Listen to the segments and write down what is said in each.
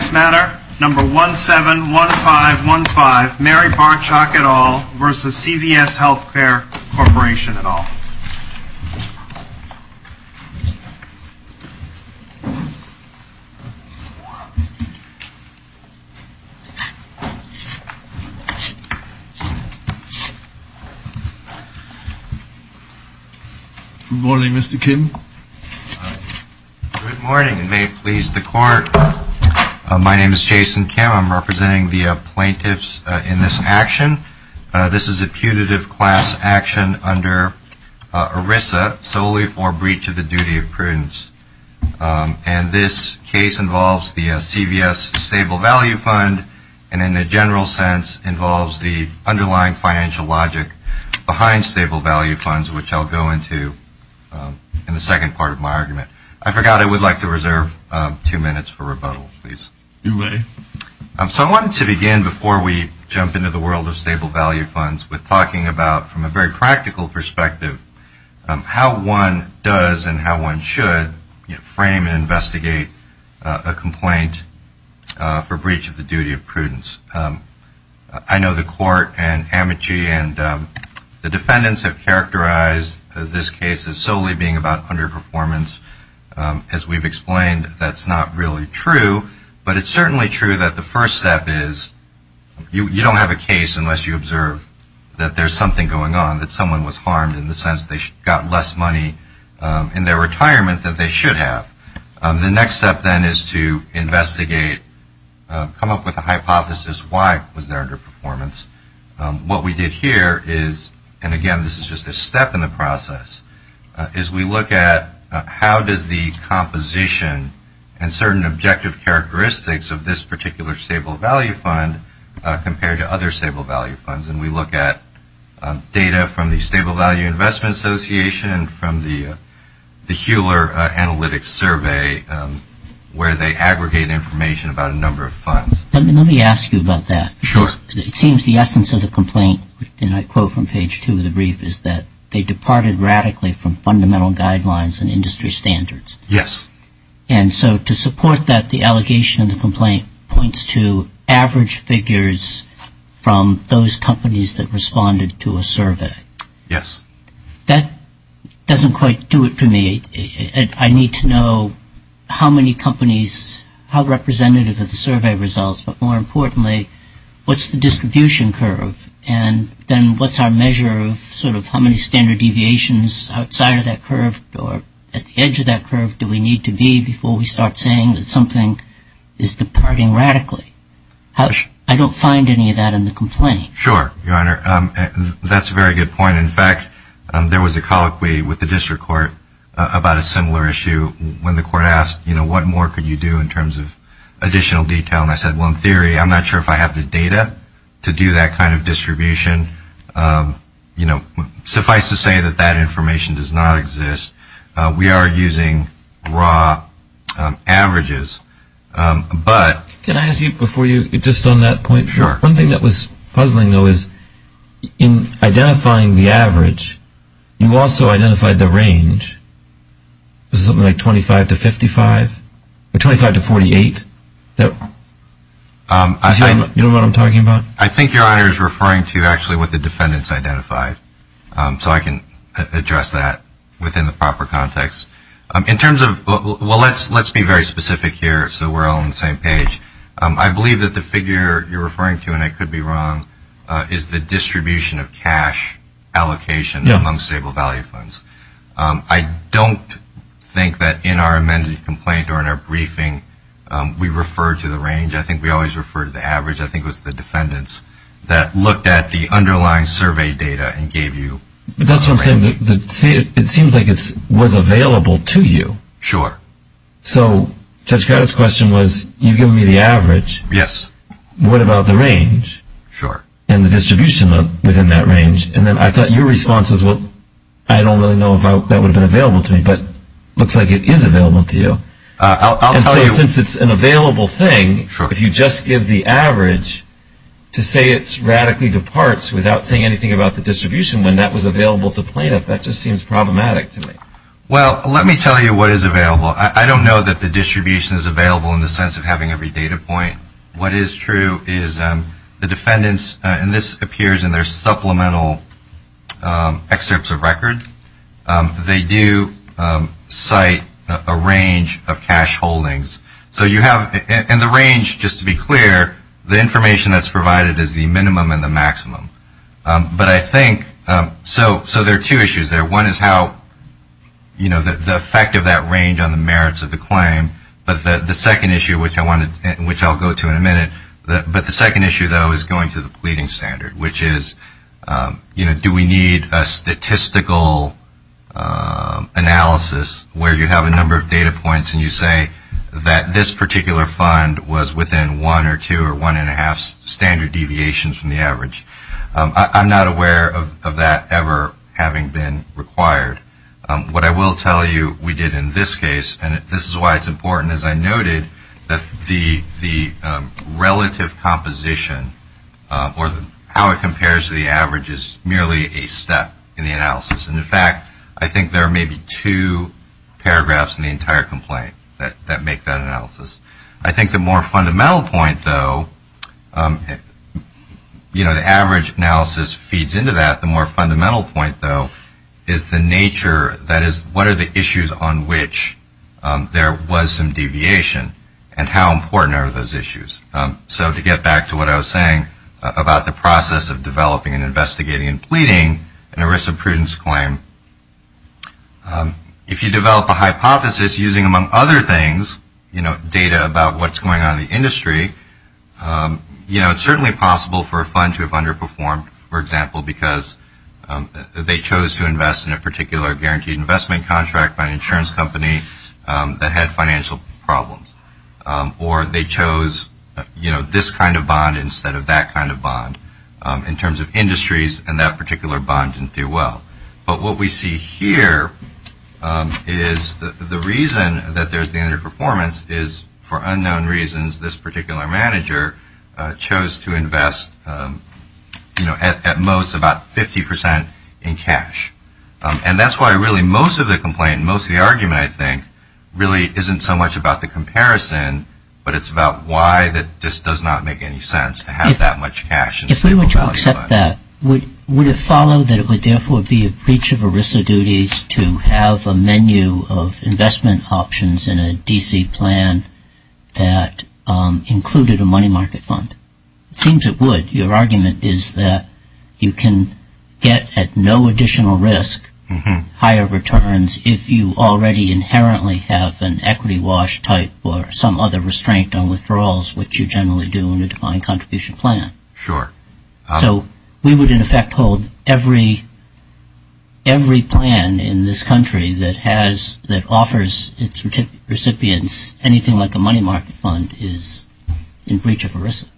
Next matter, number 171515, Mary Barchock et al. v. CVS Health Care Corporation et al. Good morning, Mr. Kim. Good morning, and may it please the Court, my name is Jason Kim. I'm representing the plaintiffs in this action. This is a putative class action under ERISA solely for breach of the duty of prudence. And this case involves the CVS Stable Value Fund, and in a general sense involves the underlying financial logic behind Stable Value Funds, which I'll go into in the second part of my argument. I forgot I would like to reserve two minutes for rebuttal, please. You may. So I wanted to begin before we jump into the world of Stable Value Funds with talking about, from a very practical perspective, how one does and how one should frame and investigate a complaint for breach of the duty of prudence. I know the Court and Amity and the defendants have characterized this case as solely being about underperformance. As we've explained, that's not really true, but it's certainly true that the first step is you don't have a case unless you observe that there's something going on, that someone was harmed in the sense they got less money in their retirement than they should have. The next step, then, is to investigate, come up with a hypothesis why was there underperformance. What we did here is, and again, this is just a step in the process, is we look at how does the composition and certain objective characteristics of this particular Stable Value Fund compare to other Stable Value Funds. And we look at data from the Stable Value Investment Association and from the Hewler Analytics Survey, where they aggregate information about a number of funds. Let me ask you about that. Sure. It seems the essence of the complaint, and I quote from page two of the brief, is that they departed radically from fundamental guidelines and industry standards. Yes. And so to support that, the allegation in the complaint points to average figures from those companies that responded to a survey. Yes. That doesn't quite do it for me. I need to know how many companies, how representative of the survey results, but more importantly, what's the distribution curve? And then what's our measure of sort of how many standard deviations outside of that curve or at the edge of that curve do we need to be before we start saying that something is departing radically? I don't find any of that in the complaint. Sure, Your Honor. That's a very good point. In fact, there was a colloquy with the district court about a similar issue when the court asked, you know, what more could you do in terms of additional detail? And I said, well, in theory, I'm not sure if I have the data to do that kind of distribution. You know, suffice to say that that information does not exist. We are using raw averages. Can I ask you before you, just on that point? Sure. One thing that was puzzling, though, is in identifying the average, you also identified the range. Was it something like 25 to 55? Or 25 to 48? You know what I'm talking about? I think Your Honor is referring to actually what the defendants identified. So I can address that within the proper context. In terms of, well, let's be very specific here so we're all on the same page. I believe that the figure you're referring to, and I could be wrong, is the distribution of cash allocation among stable value funds. I don't think that in our amended complaint or in our briefing we referred to the range. I think we always refer to the average. I think it was the defendants that looked at the underlying survey data and gave you the range. That's what I'm saying. It seems like it was available to you. Sure. So Judge Gattas' question was, you've given me the average. Yes. What about the range? Sure. And the distribution within that range. And then I thought your response was, well, I don't really know if that would have been available to me. But it looks like it is available to you. I'll tell you. And since it's an available thing, if you just give the average to say it radically departs without saying anything about the distribution when that was available to plaintiff, that just seems problematic to me. Well, let me tell you what is available. I don't know that the distribution is available in the sense of having every data point. What is true is the defendants, and this appears in their supplemental excerpts of record, they do cite a range of cash holdings. And the range, just to be clear, the information that's provided is the minimum and the maximum. So there are two issues there. One is how, you know, the effect of that range on the merits of the claim. But the second issue, which I'll go to in a minute, but the second issue, though, is going to the pleading standard, which is, you know, do we need a statistical analysis where you have a number of data points and you say that this particular fund was within one or two or one and a half standard deviations from the average. I'm not aware of that ever having been required. What I will tell you we did in this case, and this is why it's important, as I noted, that the relative composition or how it compares to the average is merely a step in the analysis. And, in fact, I think there are maybe two paragraphs in the entire complaint that make that analysis. I think the more fundamental point, though, you know, the average analysis feeds into that. The more fundamental point, though, is the nature, that is, what are the issues on which there was some deviation and how important are those issues. So to get back to what I was saying about the process of developing and investigating and pleading and a risk of prudence claim, if you develop a hypothesis using, among other things, you know, data about what's going on in the industry, you know, it's certainly possible for a fund to have underperformed, for example, because they chose to invest in a particular guaranteed investment contract by an insurance company that had financial problems. Or they chose, you know, this kind of bond instead of that kind of bond in terms of industries, and that particular bond didn't do well. But what we see here is the reason that there's the underperformance is for unknown reasons this particular manager chose to invest, you know, at most about 50% in cash. And that's why really most of the complaint, most of the argument, I think, really isn't so much about the comparison, but it's about why this does not make any sense to have that much cash. If we were to accept that, would it follow that it would therefore be a breach of ERISA duties to have a menu of investment options in a D.C. plan that included a money market fund? It seems it would. Your argument is that you can get at no additional risk higher returns if you already inherently have an equity wash type or some other restraint on withdrawals, which you generally do in a defined contribution plan. Sure. So we would, in effect, hold every plan in this country that offers its recipients anything like a money market fund is in breach of ERISA?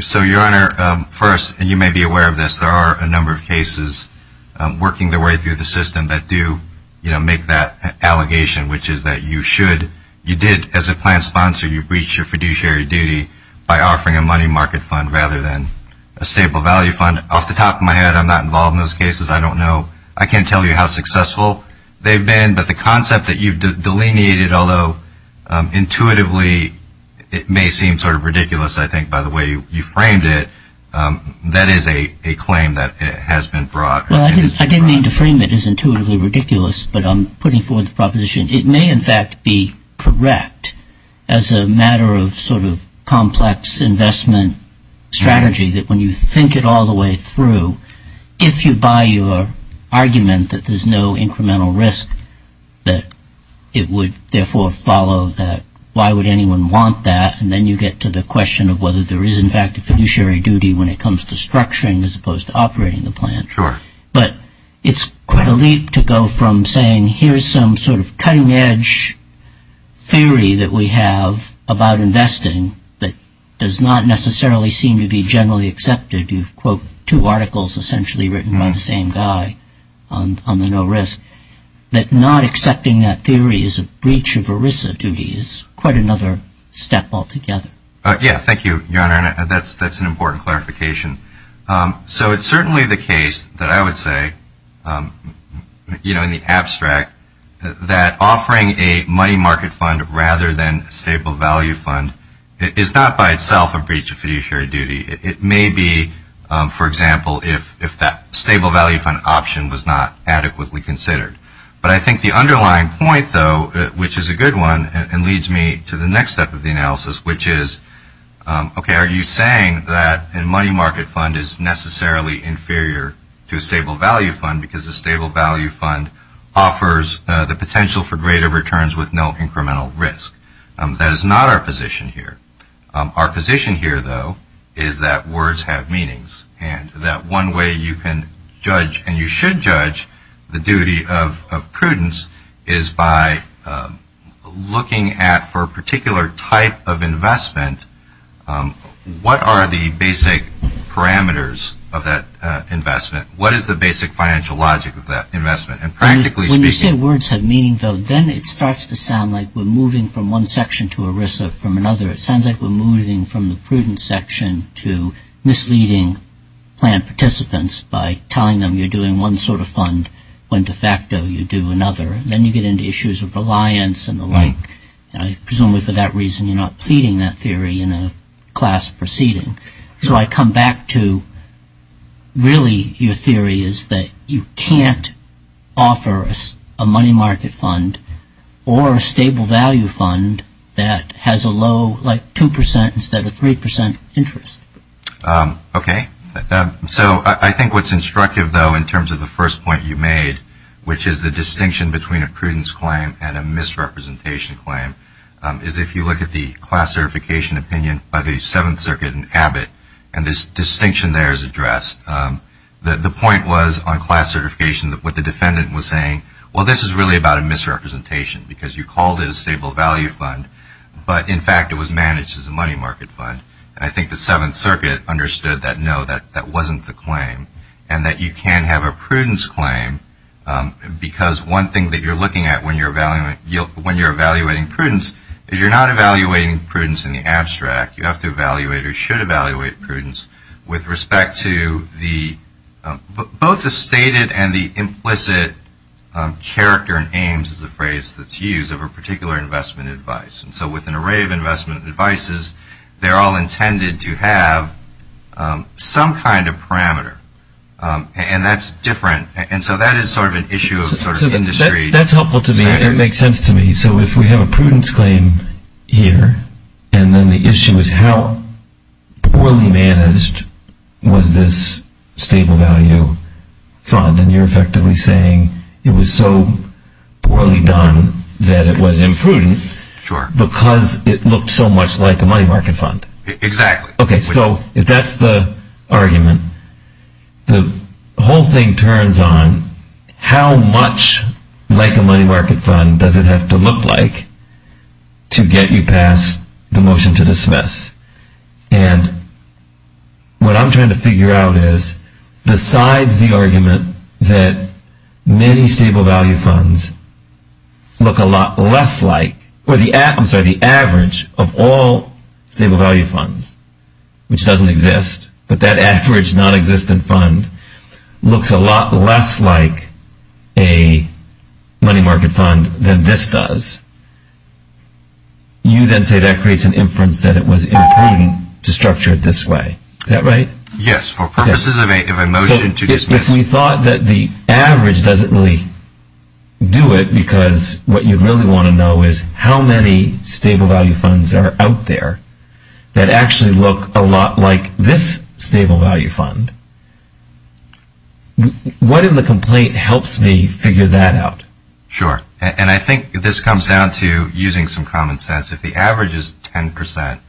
So, Your Honor, first, and you may be aware of this, there are a number of cases working their way through the system that do, you know, make that allegation, which is that you should, you did, as a plan sponsor, by offering a money market fund rather than a stable value fund. Off the top of my head, I'm not involved in those cases. I don't know. I can't tell you how successful they've been. But the concept that you've delineated, although intuitively it may seem sort of ridiculous, I think, by the way you framed it, that is a claim that has been brought. Well, I didn't mean to frame it as intuitively ridiculous, but I'm putting forward the proposition. It may, in fact, be correct as a matter of sort of complex investment strategy that when you think it all the way through, if you buy your argument that there's no incremental risk that it would, therefore, follow that, why would anyone want that? And then you get to the question of whether there is, in fact, a fiduciary duty when it comes to structuring as opposed to operating the plan. Sure. But it's quite a leap to go from saying here's some sort of cutting-edge theory that we have about investing that does not necessarily seem to be generally accepted. You've, quote, two articles essentially written by the same guy on the no risk. That not accepting that theory is a breach of ERISA duty is quite another step altogether. Yeah, thank you, Your Honor, and that's an important clarification. So it's certainly the case that I would say, you know, in the abstract, that offering a money market fund rather than a stable value fund is not by itself a breach of fiduciary duty. It may be, for example, if that stable value fund option was not adequately considered. But I think the underlying point, though, which is a good one and leads me to the next step of the analysis, which is, okay, are you saying that a money market fund is necessarily inferior to a stable value fund because a stable value fund offers the potential for greater returns with no incremental risk? That is not our position here. Our position here, though, is that words have meanings and that one way you can judge and you should judge the duty of prudence is by looking at, for a particular type of investment, what are the basic parameters of that investment? What is the basic financial logic of that investment? And practically speaking. When you say words have meaning, though, then it starts to sound like we're moving from one section to ERISA from another. It sounds like we're moving from the prudent section to misleading plan participants by telling them you're doing one sort of fund when de facto you do another. Then you get into issues of reliance and the like. Presumably for that reason you're not pleading that theory in a class proceeding. So I come back to really your theory is that you can't offer a money market fund or a stable value fund that has a low, like 2% instead of 3% interest. Okay. So I think what's instructive, though, in terms of the first point you made, which is the distinction between a prudence claim and a misrepresentation claim, is if you look at the class certification opinion by the Seventh Circuit in Abbott and this distinction there is addressed. The point was on class certification what the defendant was saying, well, this is really about a misrepresentation because you called it a stable value fund, but in fact it was managed as a money market fund. And I think the Seventh Circuit understood that, no, that wasn't the claim. And that you can have a prudence claim because one thing that you're looking at when you're evaluating prudence is you're not evaluating prudence in the abstract. You have to evaluate or should evaluate prudence with respect to both the stated and the implicit character and aims is the phrase that's used of a particular investment advice. And so with an array of investment advices, they're all intended to have some kind of parameter. And that's different. And so that is sort of an issue of sort of industry. That's helpful to me. It makes sense to me. So if we have a prudence claim here and then the issue is how poorly managed was this stable value fund and you're effectively saying it was so poorly done that it was imprudent because it looked so much like a money market fund. Exactly. Okay, so if that's the argument, the whole thing turns on how much like a money market fund does it have to look like to get you past the motion to dismiss. And what I'm trying to figure out is besides the argument that many stable value funds look a lot less like or the average of all stable value funds, which doesn't exist, but that average non-existent fund looks a lot less like a money market fund than this does. You then say that creates an inference that it was imprudent to structure it this way. Is that right? Yes, for purposes of a motion to dismiss. If we thought that the average doesn't really do it because what you really want to know is how many stable value funds are out there that actually look a lot like this stable value fund, what in the complaint helps me figure that out? Sure, and I think this comes down to using some common sense. If the average is 10%,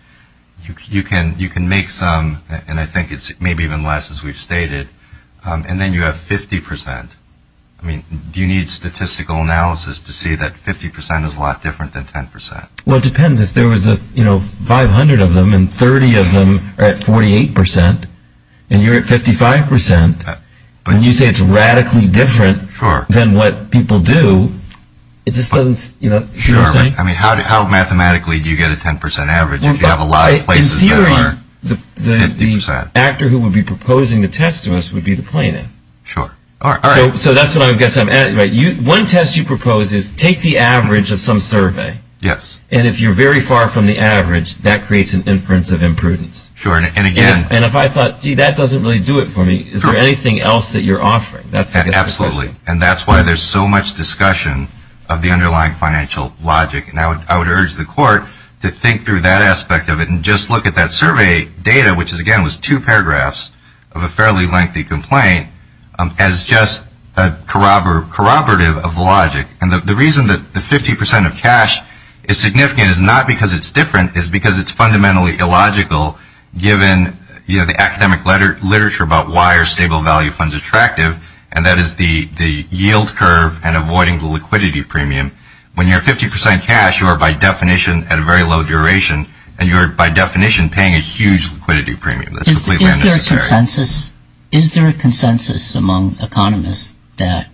you can make some, and I think it's maybe even less as we've stated, and then you have 50%. I mean, do you need statistical analysis to see that 50% is a lot different than 10%? Well, it depends. If there was 500 of them and 30 of them are at 48% and you're at 55%, when you say it's radically different than what people do, it just doesn't, you know what I'm saying? Sure, but how mathematically do you get a 10% average if you have a lot of places that are 50%? The actor who would be proposing the test to us would be the plaintiff. Sure. So that's what I guess I'm asking. One test you propose is take the average of some survey, and if you're very far from the average, that creates an inference of imprudence. And if I thought, gee, that doesn't really do it for me, is there anything else that you're offering? Absolutely, and that's why there's so much discussion of the underlying financial logic, and I would urge the court to think through that aspect of it and just look at that survey data, which, again, was two paragraphs of a fairly lengthy complaint, as just corroborative of logic. And the reason that the 50% of cash is significant is not because it's different, it's because it's fundamentally illogical given the academic literature about why are stable value funds attractive, and that is the yield curve and avoiding the liquidity premium. When you're at 50% cash, you are, by definition, at a very low duration, and you are, by definition, paying a huge liquidity premium. That's completely unnecessary. Is there a consensus among economists that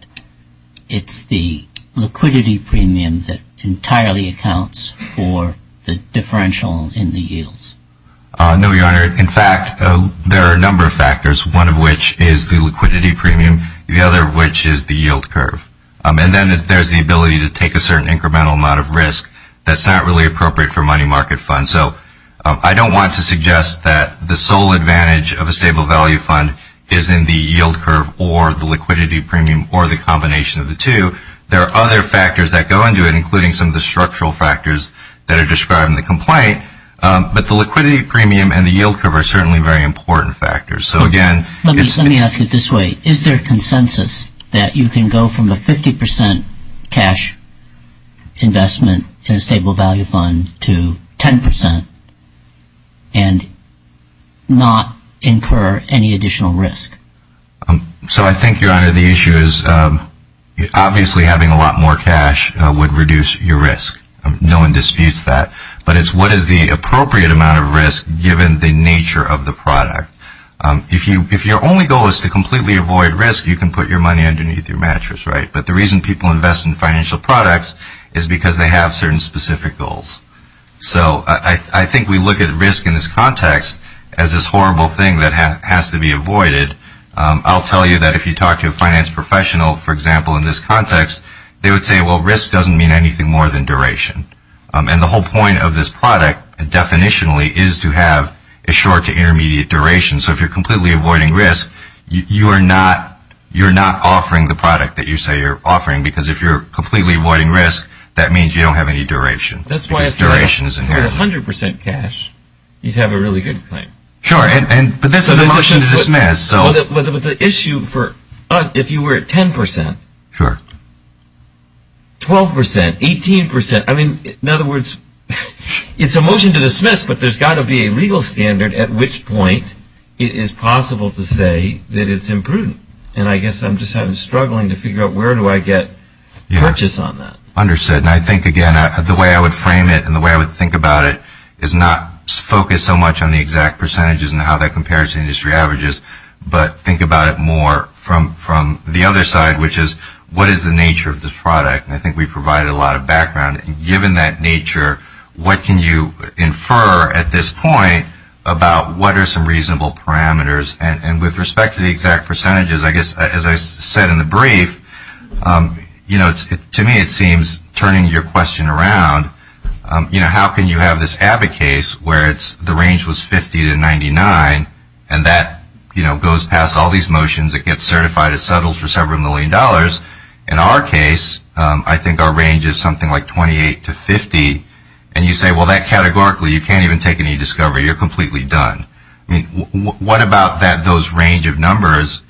it's the liquidity premium that entirely accounts for the differential in the yields? No, Your Honor. In fact, there are a number of factors, one of which is the liquidity premium, the other of which is the yield curve. And then there's the ability to take a certain incremental amount of risk that's not really appropriate for money market funds. So I don't want to suggest that the sole advantage of a stable value fund is in the yield curve or the liquidity premium or the combination of the two. There are other factors that go into it, including some of the structural factors that are described in the complaint, but the liquidity premium and the yield curve are certainly very important factors. Let me ask it this way. Is there consensus that you can go from a 50% cash investment in a stable value fund to 10% and not incur any additional risk? So I think, Your Honor, the issue is obviously having a lot more cash would reduce your risk. No one disputes that. But it's what is the appropriate amount of risk given the nature of the product. If your only goal is to completely avoid risk, you can put your money underneath your mattress, right? But the reason people invest in financial products is because they have certain specific goals. So I think we look at risk in this context as this horrible thing that has to be avoided. I'll tell you that if you talk to a finance professional, for example, in this context, they would say, well, risk doesn't mean anything more than duration. And the whole point of this product definitionally is to have a short to intermediate duration. So if you're completely avoiding risk, you're not offering the product that you say you're offering because if you're completely avoiding risk, that means you don't have any duration. That's why if you had 100% cash, you'd have a really good claim. But the issue for us, if you were at 10%, 12%, 18%, I mean, in other words, it's a motion to dismiss, but there's got to be a legal standard at which point it is possible to say that it's imprudent. And I guess I'm just struggling to figure out where do I get purchase on that. Understood. And I think, again, the way I would frame it and the way I would think about it is not focus so much on the exact percentages and how that compares to industry averages, but think about it more from the other side, which is what is the nature of this product? And I think we've provided a lot of background. Given that nature, what can you infer at this point about what are some reasonable parameters? And with respect to the exact percentages, I guess as I said in the brief, you know, to me it seems, turning your question around, you know, how can you have this Abbott case where the range was 50 to 99 and that, you know, goes past all these motions, it gets certified, it settles for several million dollars. In our case, I think our range is something like 28 to 50. And you say, well, that categorically, you can't even take any discovery. You're completely done. I mean, what about that those range of numbers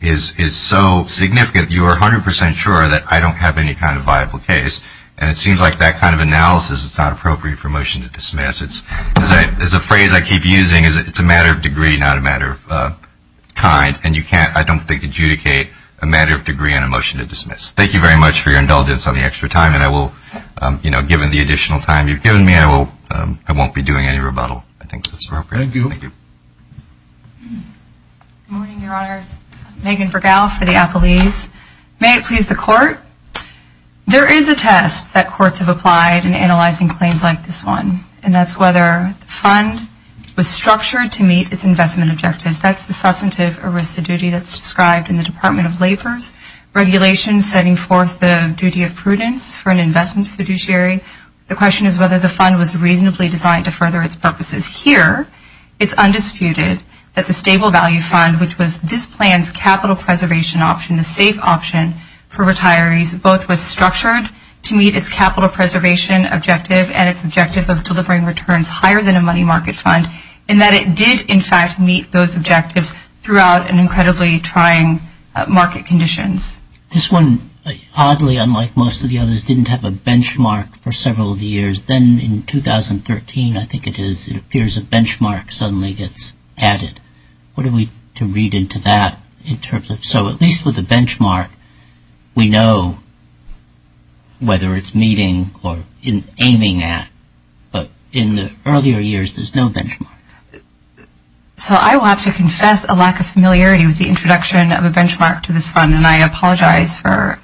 is so significant, you are 100 percent sure that I don't have any kind of viable case. And it seems like that kind of analysis is not appropriate for a motion to dismiss. It's a phrase I keep using is it's a matter of degree, not a matter of kind. And you can't, I don't think, adjudicate a matter of degree on a motion to dismiss. Thank you very much for your indulgence on the extra time. And I will, you know, given the additional time you've given me, I won't be doing any rebuttal. I think that's appropriate. Thank you. Good morning, Your Honors. Megan Vergao for the Appellees. May it please the Court. There is a test that courts have applied in analyzing claims like this one, and that's whether the fund was structured to meet its investment objectives. That's the substantive arista duty that's described in the Department of Labor's regulations setting forth the duty of prudence for an investment fiduciary. The question is whether the fund was reasonably designed to further its purposes here. It's undisputed that the stable value fund, which was this plan's capital preservation option, the safe option for retirees, both was structured to meet its capital preservation objective and its objective of delivering returns higher than a money market fund, and that it did, in fact, meet those objectives throughout an incredibly trying market conditions. This one, oddly, unlike most of the others, didn't have a benchmark for several of the years. Then in 2013, I think it is, it appears a benchmark suddenly gets added. What are we to read into that in terms of, so at least with a benchmark, we know whether it's meeting or aiming at, but in the earlier years there's no benchmark. So I will have to confess a lack of familiarity with the introduction of a benchmark to this fund, and I apologize for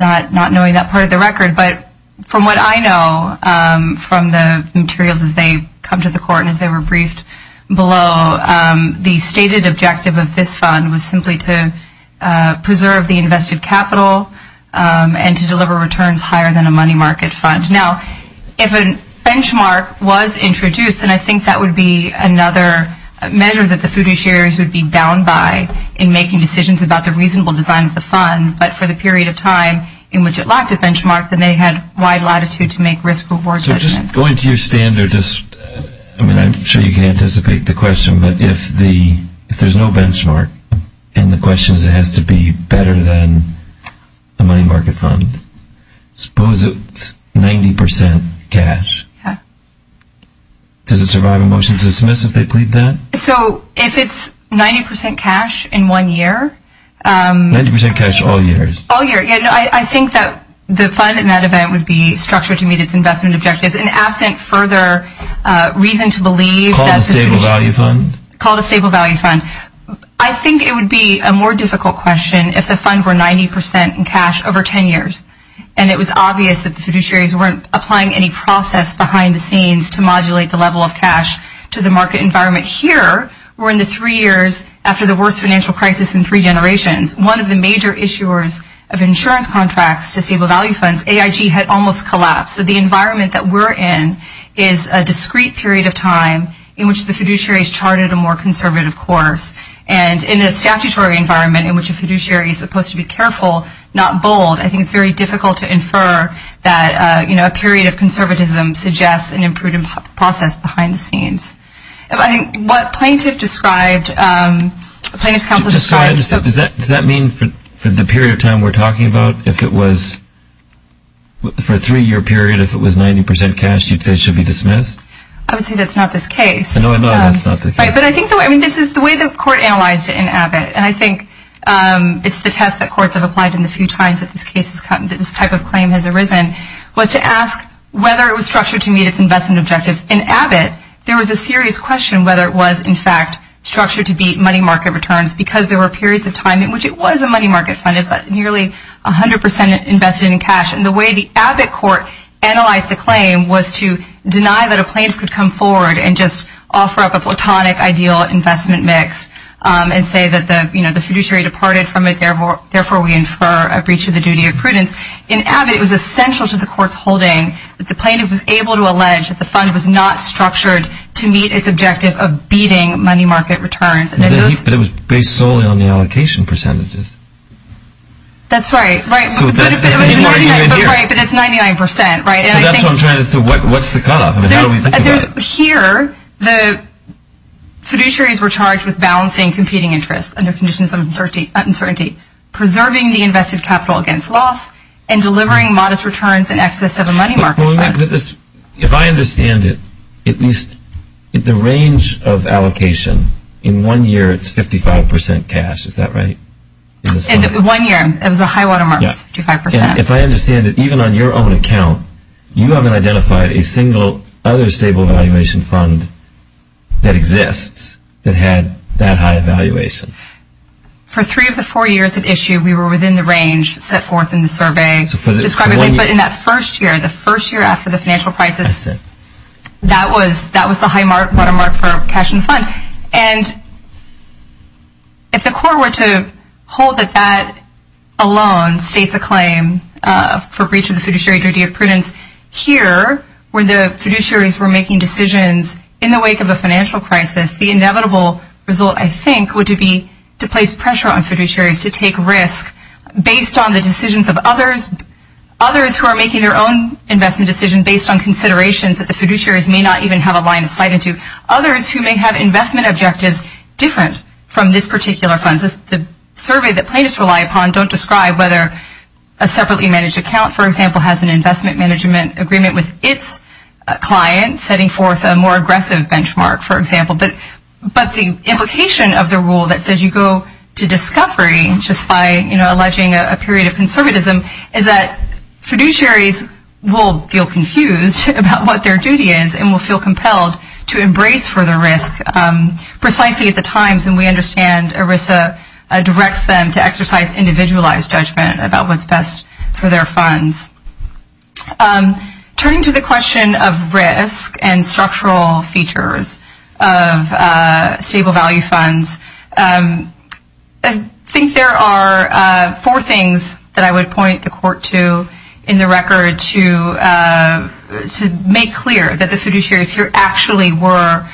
not knowing that part of the record. But from what I know from the materials as they come to the court and as they were briefed below, the stated objective of this fund was simply to preserve the invested capital and to deliver returns higher than a money market fund. Now, if a benchmark was introduced, then I think that would be another measure that the fiduciaries would be bound by in making decisions about the reasonable design of the fund. But for the period of time in which it lacked a benchmark, then they had wide latitude to make risk-reward judgments. So just going to your standard, I mean, I'm sure you can anticipate the question, but if there's no benchmark and the question is it has to be better than a money market fund, suppose it's 90% cash. Does it survive a motion to dismiss if they plead that? So if it's 90% cash in one year. 90% cash all year? All year. I think that the fund in that event would be structured to meet its investment objectives. And absent further reason to believe that the fiduciary. Call it a stable value fund? Call it a stable value fund. I think it would be a more difficult question if the fund were 90% in cash over 10 years, and it was obvious that the fiduciaries weren't applying any process behind the scenes to modulate the level of cash to the market environment. But here, we're in the three years after the worst financial crisis in three generations. One of the major issuers of insurance contracts to stable value funds, AIG, had almost collapsed. So the environment that we're in is a discrete period of time in which the fiduciaries charted a more conservative course. And in a statutory environment in which a fiduciary is supposed to be careful, not bold, I think it's very difficult to infer that a period of conservatism suggests an improved process behind the scenes. I think what plaintiff described, plaintiff's counsel described- Just so I understand, does that mean for the period of time we're talking about, if it was for a three-year period, if it was 90% cash, you'd say it should be dismissed? I would say that's not this case. No, I know that's not the case. Right, but I think the way, I mean, this is the way the court analyzed it in Abbott, and I think it's the test that courts have applied in the few times that this type of claim has arisen, was to ask whether it was structured to meet its investment objectives. In Abbott, there was a serious question whether it was, in fact, structured to meet money market returns because there were periods of time in which it was a money market fund, it's nearly 100% invested in cash. And the way the Abbott court analyzed the claim was to deny that a plaintiff could come forward and just offer up a platonic ideal investment mix and say that the fiduciary departed from it, therefore we infer a breach of the duty of prudence. In Abbott, it was essential to the court's holding that the plaintiff was able to allege that the fund was not structured to meet its objective of beating money market returns. But it was based solely on the allocation percentages. That's right, but it's 99%, right? So that's what I'm trying to say, what's the cutoff? Here, the fiduciaries were charged with balancing competing interests under conditions of uncertainty, preserving the invested capital against loss, and delivering modest returns in excess of a money market fund. If I understand it, at least the range of allocation, in one year it's 55% cash, is that right? One year, it was a high watermark, 55%. If I understand it, even on your own account, you haven't identified a single other stable valuation fund that exists that had that high a valuation. For three of the four years at issue, we were within the range set forth in the survey. But in that first year, the first year after the financial crisis, that was the high watermark for cash in the fund. And if the court were to hold that that alone states a claim for breach of the fiduciary duty of prudence, here, where the fiduciaries were making decisions in the wake of a financial crisis, the inevitable result, I think, would be to place pressure on fiduciaries to take risks based on the decisions of others, others who are making their own investment decision based on considerations that the fiduciaries may not even have a line of sight into, others who may have investment objectives different from this particular fund. The survey that plaintiffs rely upon don't describe whether a separately managed account, for example, has an investment management agreement with its client, setting forth a more aggressive benchmark, for example. But the implication of the rule that says you go to discovery just by, you know, alleging a period of conservatism is that fiduciaries will feel confused about what their duty is and will feel compelled to embrace further risk precisely at the times when we understand ERISA directs them to exercise individualized judgment about what's best for their funds. Turning to the question of risk and structural features of stable value funds, I think there are four things that I would point the court to in the record to make clear that the fiduciaries here actually were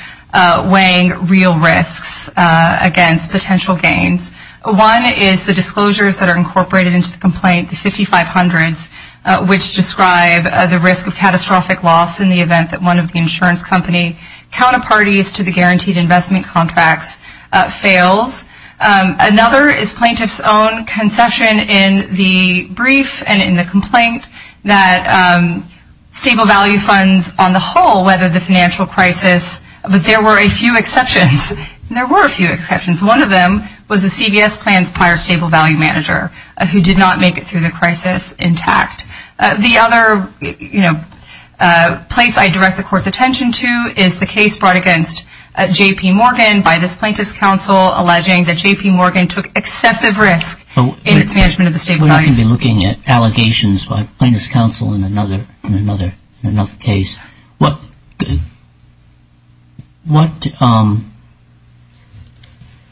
weighing real risks against potential gains. One is the disclosures that are incorporated into the complaint, the 5500s, which describe the risk of catastrophic loss in the event that one of the insurance company counterparties to the guaranteed investment contracts fails. Another is plaintiffs' own conception in the brief and in the complaint that stable value funds, on the whole, whether the financial crisis, but there were a few exceptions. There were a few exceptions. One of them was the CVS plan's prior stable value manager who did not make it through the crisis intact. The other, you know, place I direct the court's attention to is the case brought against J.P. Morgan by this plaintiff's counsel alleging that J.P. Morgan took excessive risk in its management of the stable value. We're not going to be looking at allegations by plaintiff's counsel in another case.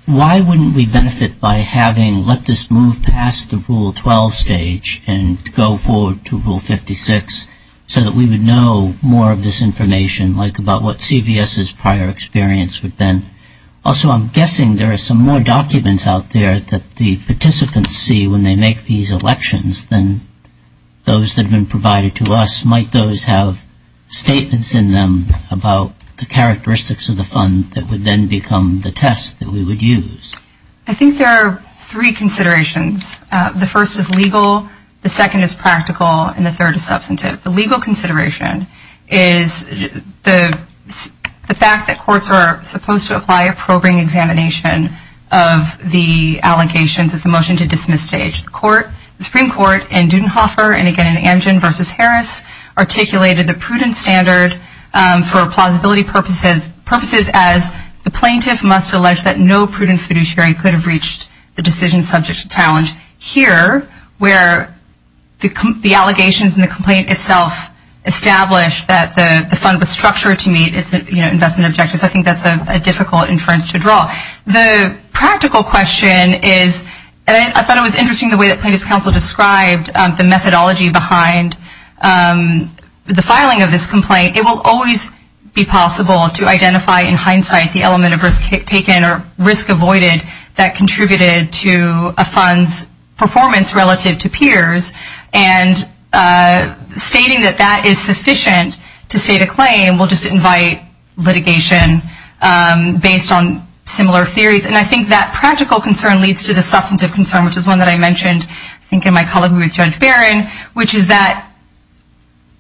Why wouldn't we benefit by having let this move past the Rule 12 stage and go forward to Rule 56 so that we would know more of this information, like about what CVS's prior experience would have been? Also, I'm guessing there are some more documents out there that the participants see when they make these elections than those that have been provided to us. Might those have statements in them about the characteristics of the fund that would then become the test that we would use? I think there are three considerations. The first is legal, the second is practical, and the third is substantive. The legal consideration is the fact that courts are supposed to apply a probing examination of the allegations at the motion to dismiss stage. The Supreme Court in Dudenhofer and again in Amgen v. Harris articulated the prudent standard for plausibility purposes as the plaintiff must allege that no prudent fiduciary could have reached the decision subject to challenge. Here, where the allegations and the complaint itself establish that the fund was structured to meet its investment objectives, the practical question is, and I thought it was interesting the way that plaintiff's counsel described the methodology behind the filing of this complaint, it will always be possible to identify in hindsight the element of risk taken or risk avoided that contributed to a fund's performance relative to peers, and stating that that is sufficient to state a claim will just invite litigation based on similar theories. And I think that practical concern leads to the substantive concern, which is one that I mentioned, I think, in my colleague with Judge Barron, which is that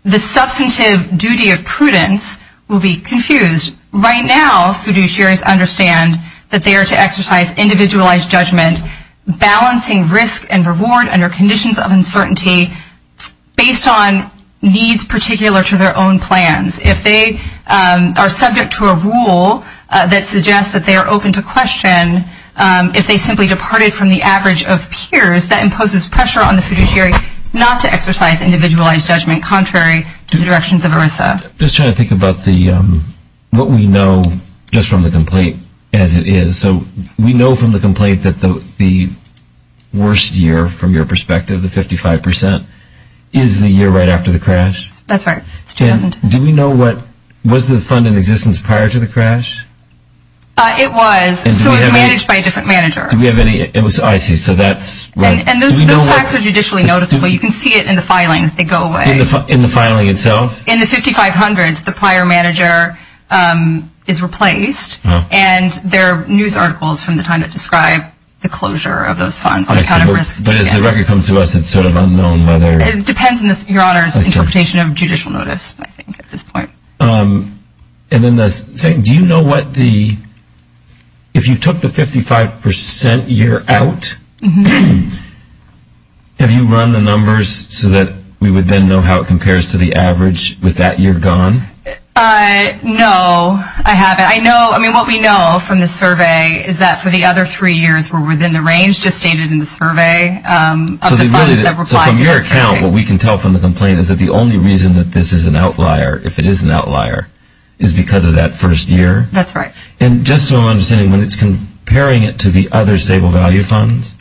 the substantive duty of prudence will be confused. Right now, fiduciaries understand that they are to exercise individualized judgment, balancing risk and reward under conditions of uncertainty based on needs particular to their own plans. If they are subject to a rule that suggests that they are open to question, if they simply departed from the average of peers, that imposes pressure on the fiduciary not to exercise individualized judgment contrary to the directions of ERISA. Just trying to think about what we know just from the complaint as it is. So we know from the complaint that the worst year, from your perspective, the 55 percent, is the year right after the crash? That's right. Do we know what was the fund in existence prior to the crash? It was. So it was managed by a different manager. Do we have any? I see. So that's right. And those facts are judicially noticeable. You can see it in the filings. They go away. In the filing itself? In the 5500s, the prior manager is replaced, and there are news articles from the time that describe the closure of those funds. But as the record comes to us, it's sort of unknown whether. It depends on Your Honor's interpretation of judicial notice, I think, at this point. And then the second, do you know what the, if you took the 55 percent year out, have you run the numbers so that we would then know how it compares to the average with that year gone? No, I haven't. I know, I mean, what we know from the survey is that for the other three years were within the range just stated in the survey. So from your account, what we can tell from the complaint is that the only reason that this is an outlier, if it is an outlier, is because of that first year? That's right. And just so I'm understanding, when it's comparing it to the other stable value funds,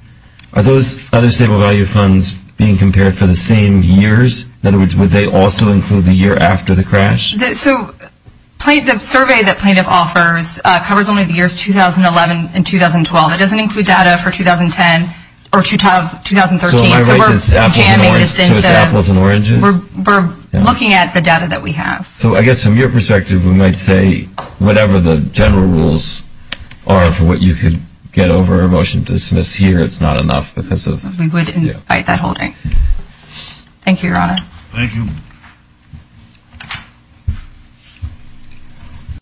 are those other stable value funds being compared for the same years? In other words, would they also include the year after the crash? So the survey that plaintiff offers covers only the years 2011 and 2012. It doesn't include data for 2010 or 2013. So we're jamming this into apples and oranges? We're looking at the data that we have. So I guess from your perspective, we might say whatever the general rules are for what you could get over, a motion to dismiss here, it's not enough because of, yeah. We would invite that holding. Thank you, Your Honor. Thank you.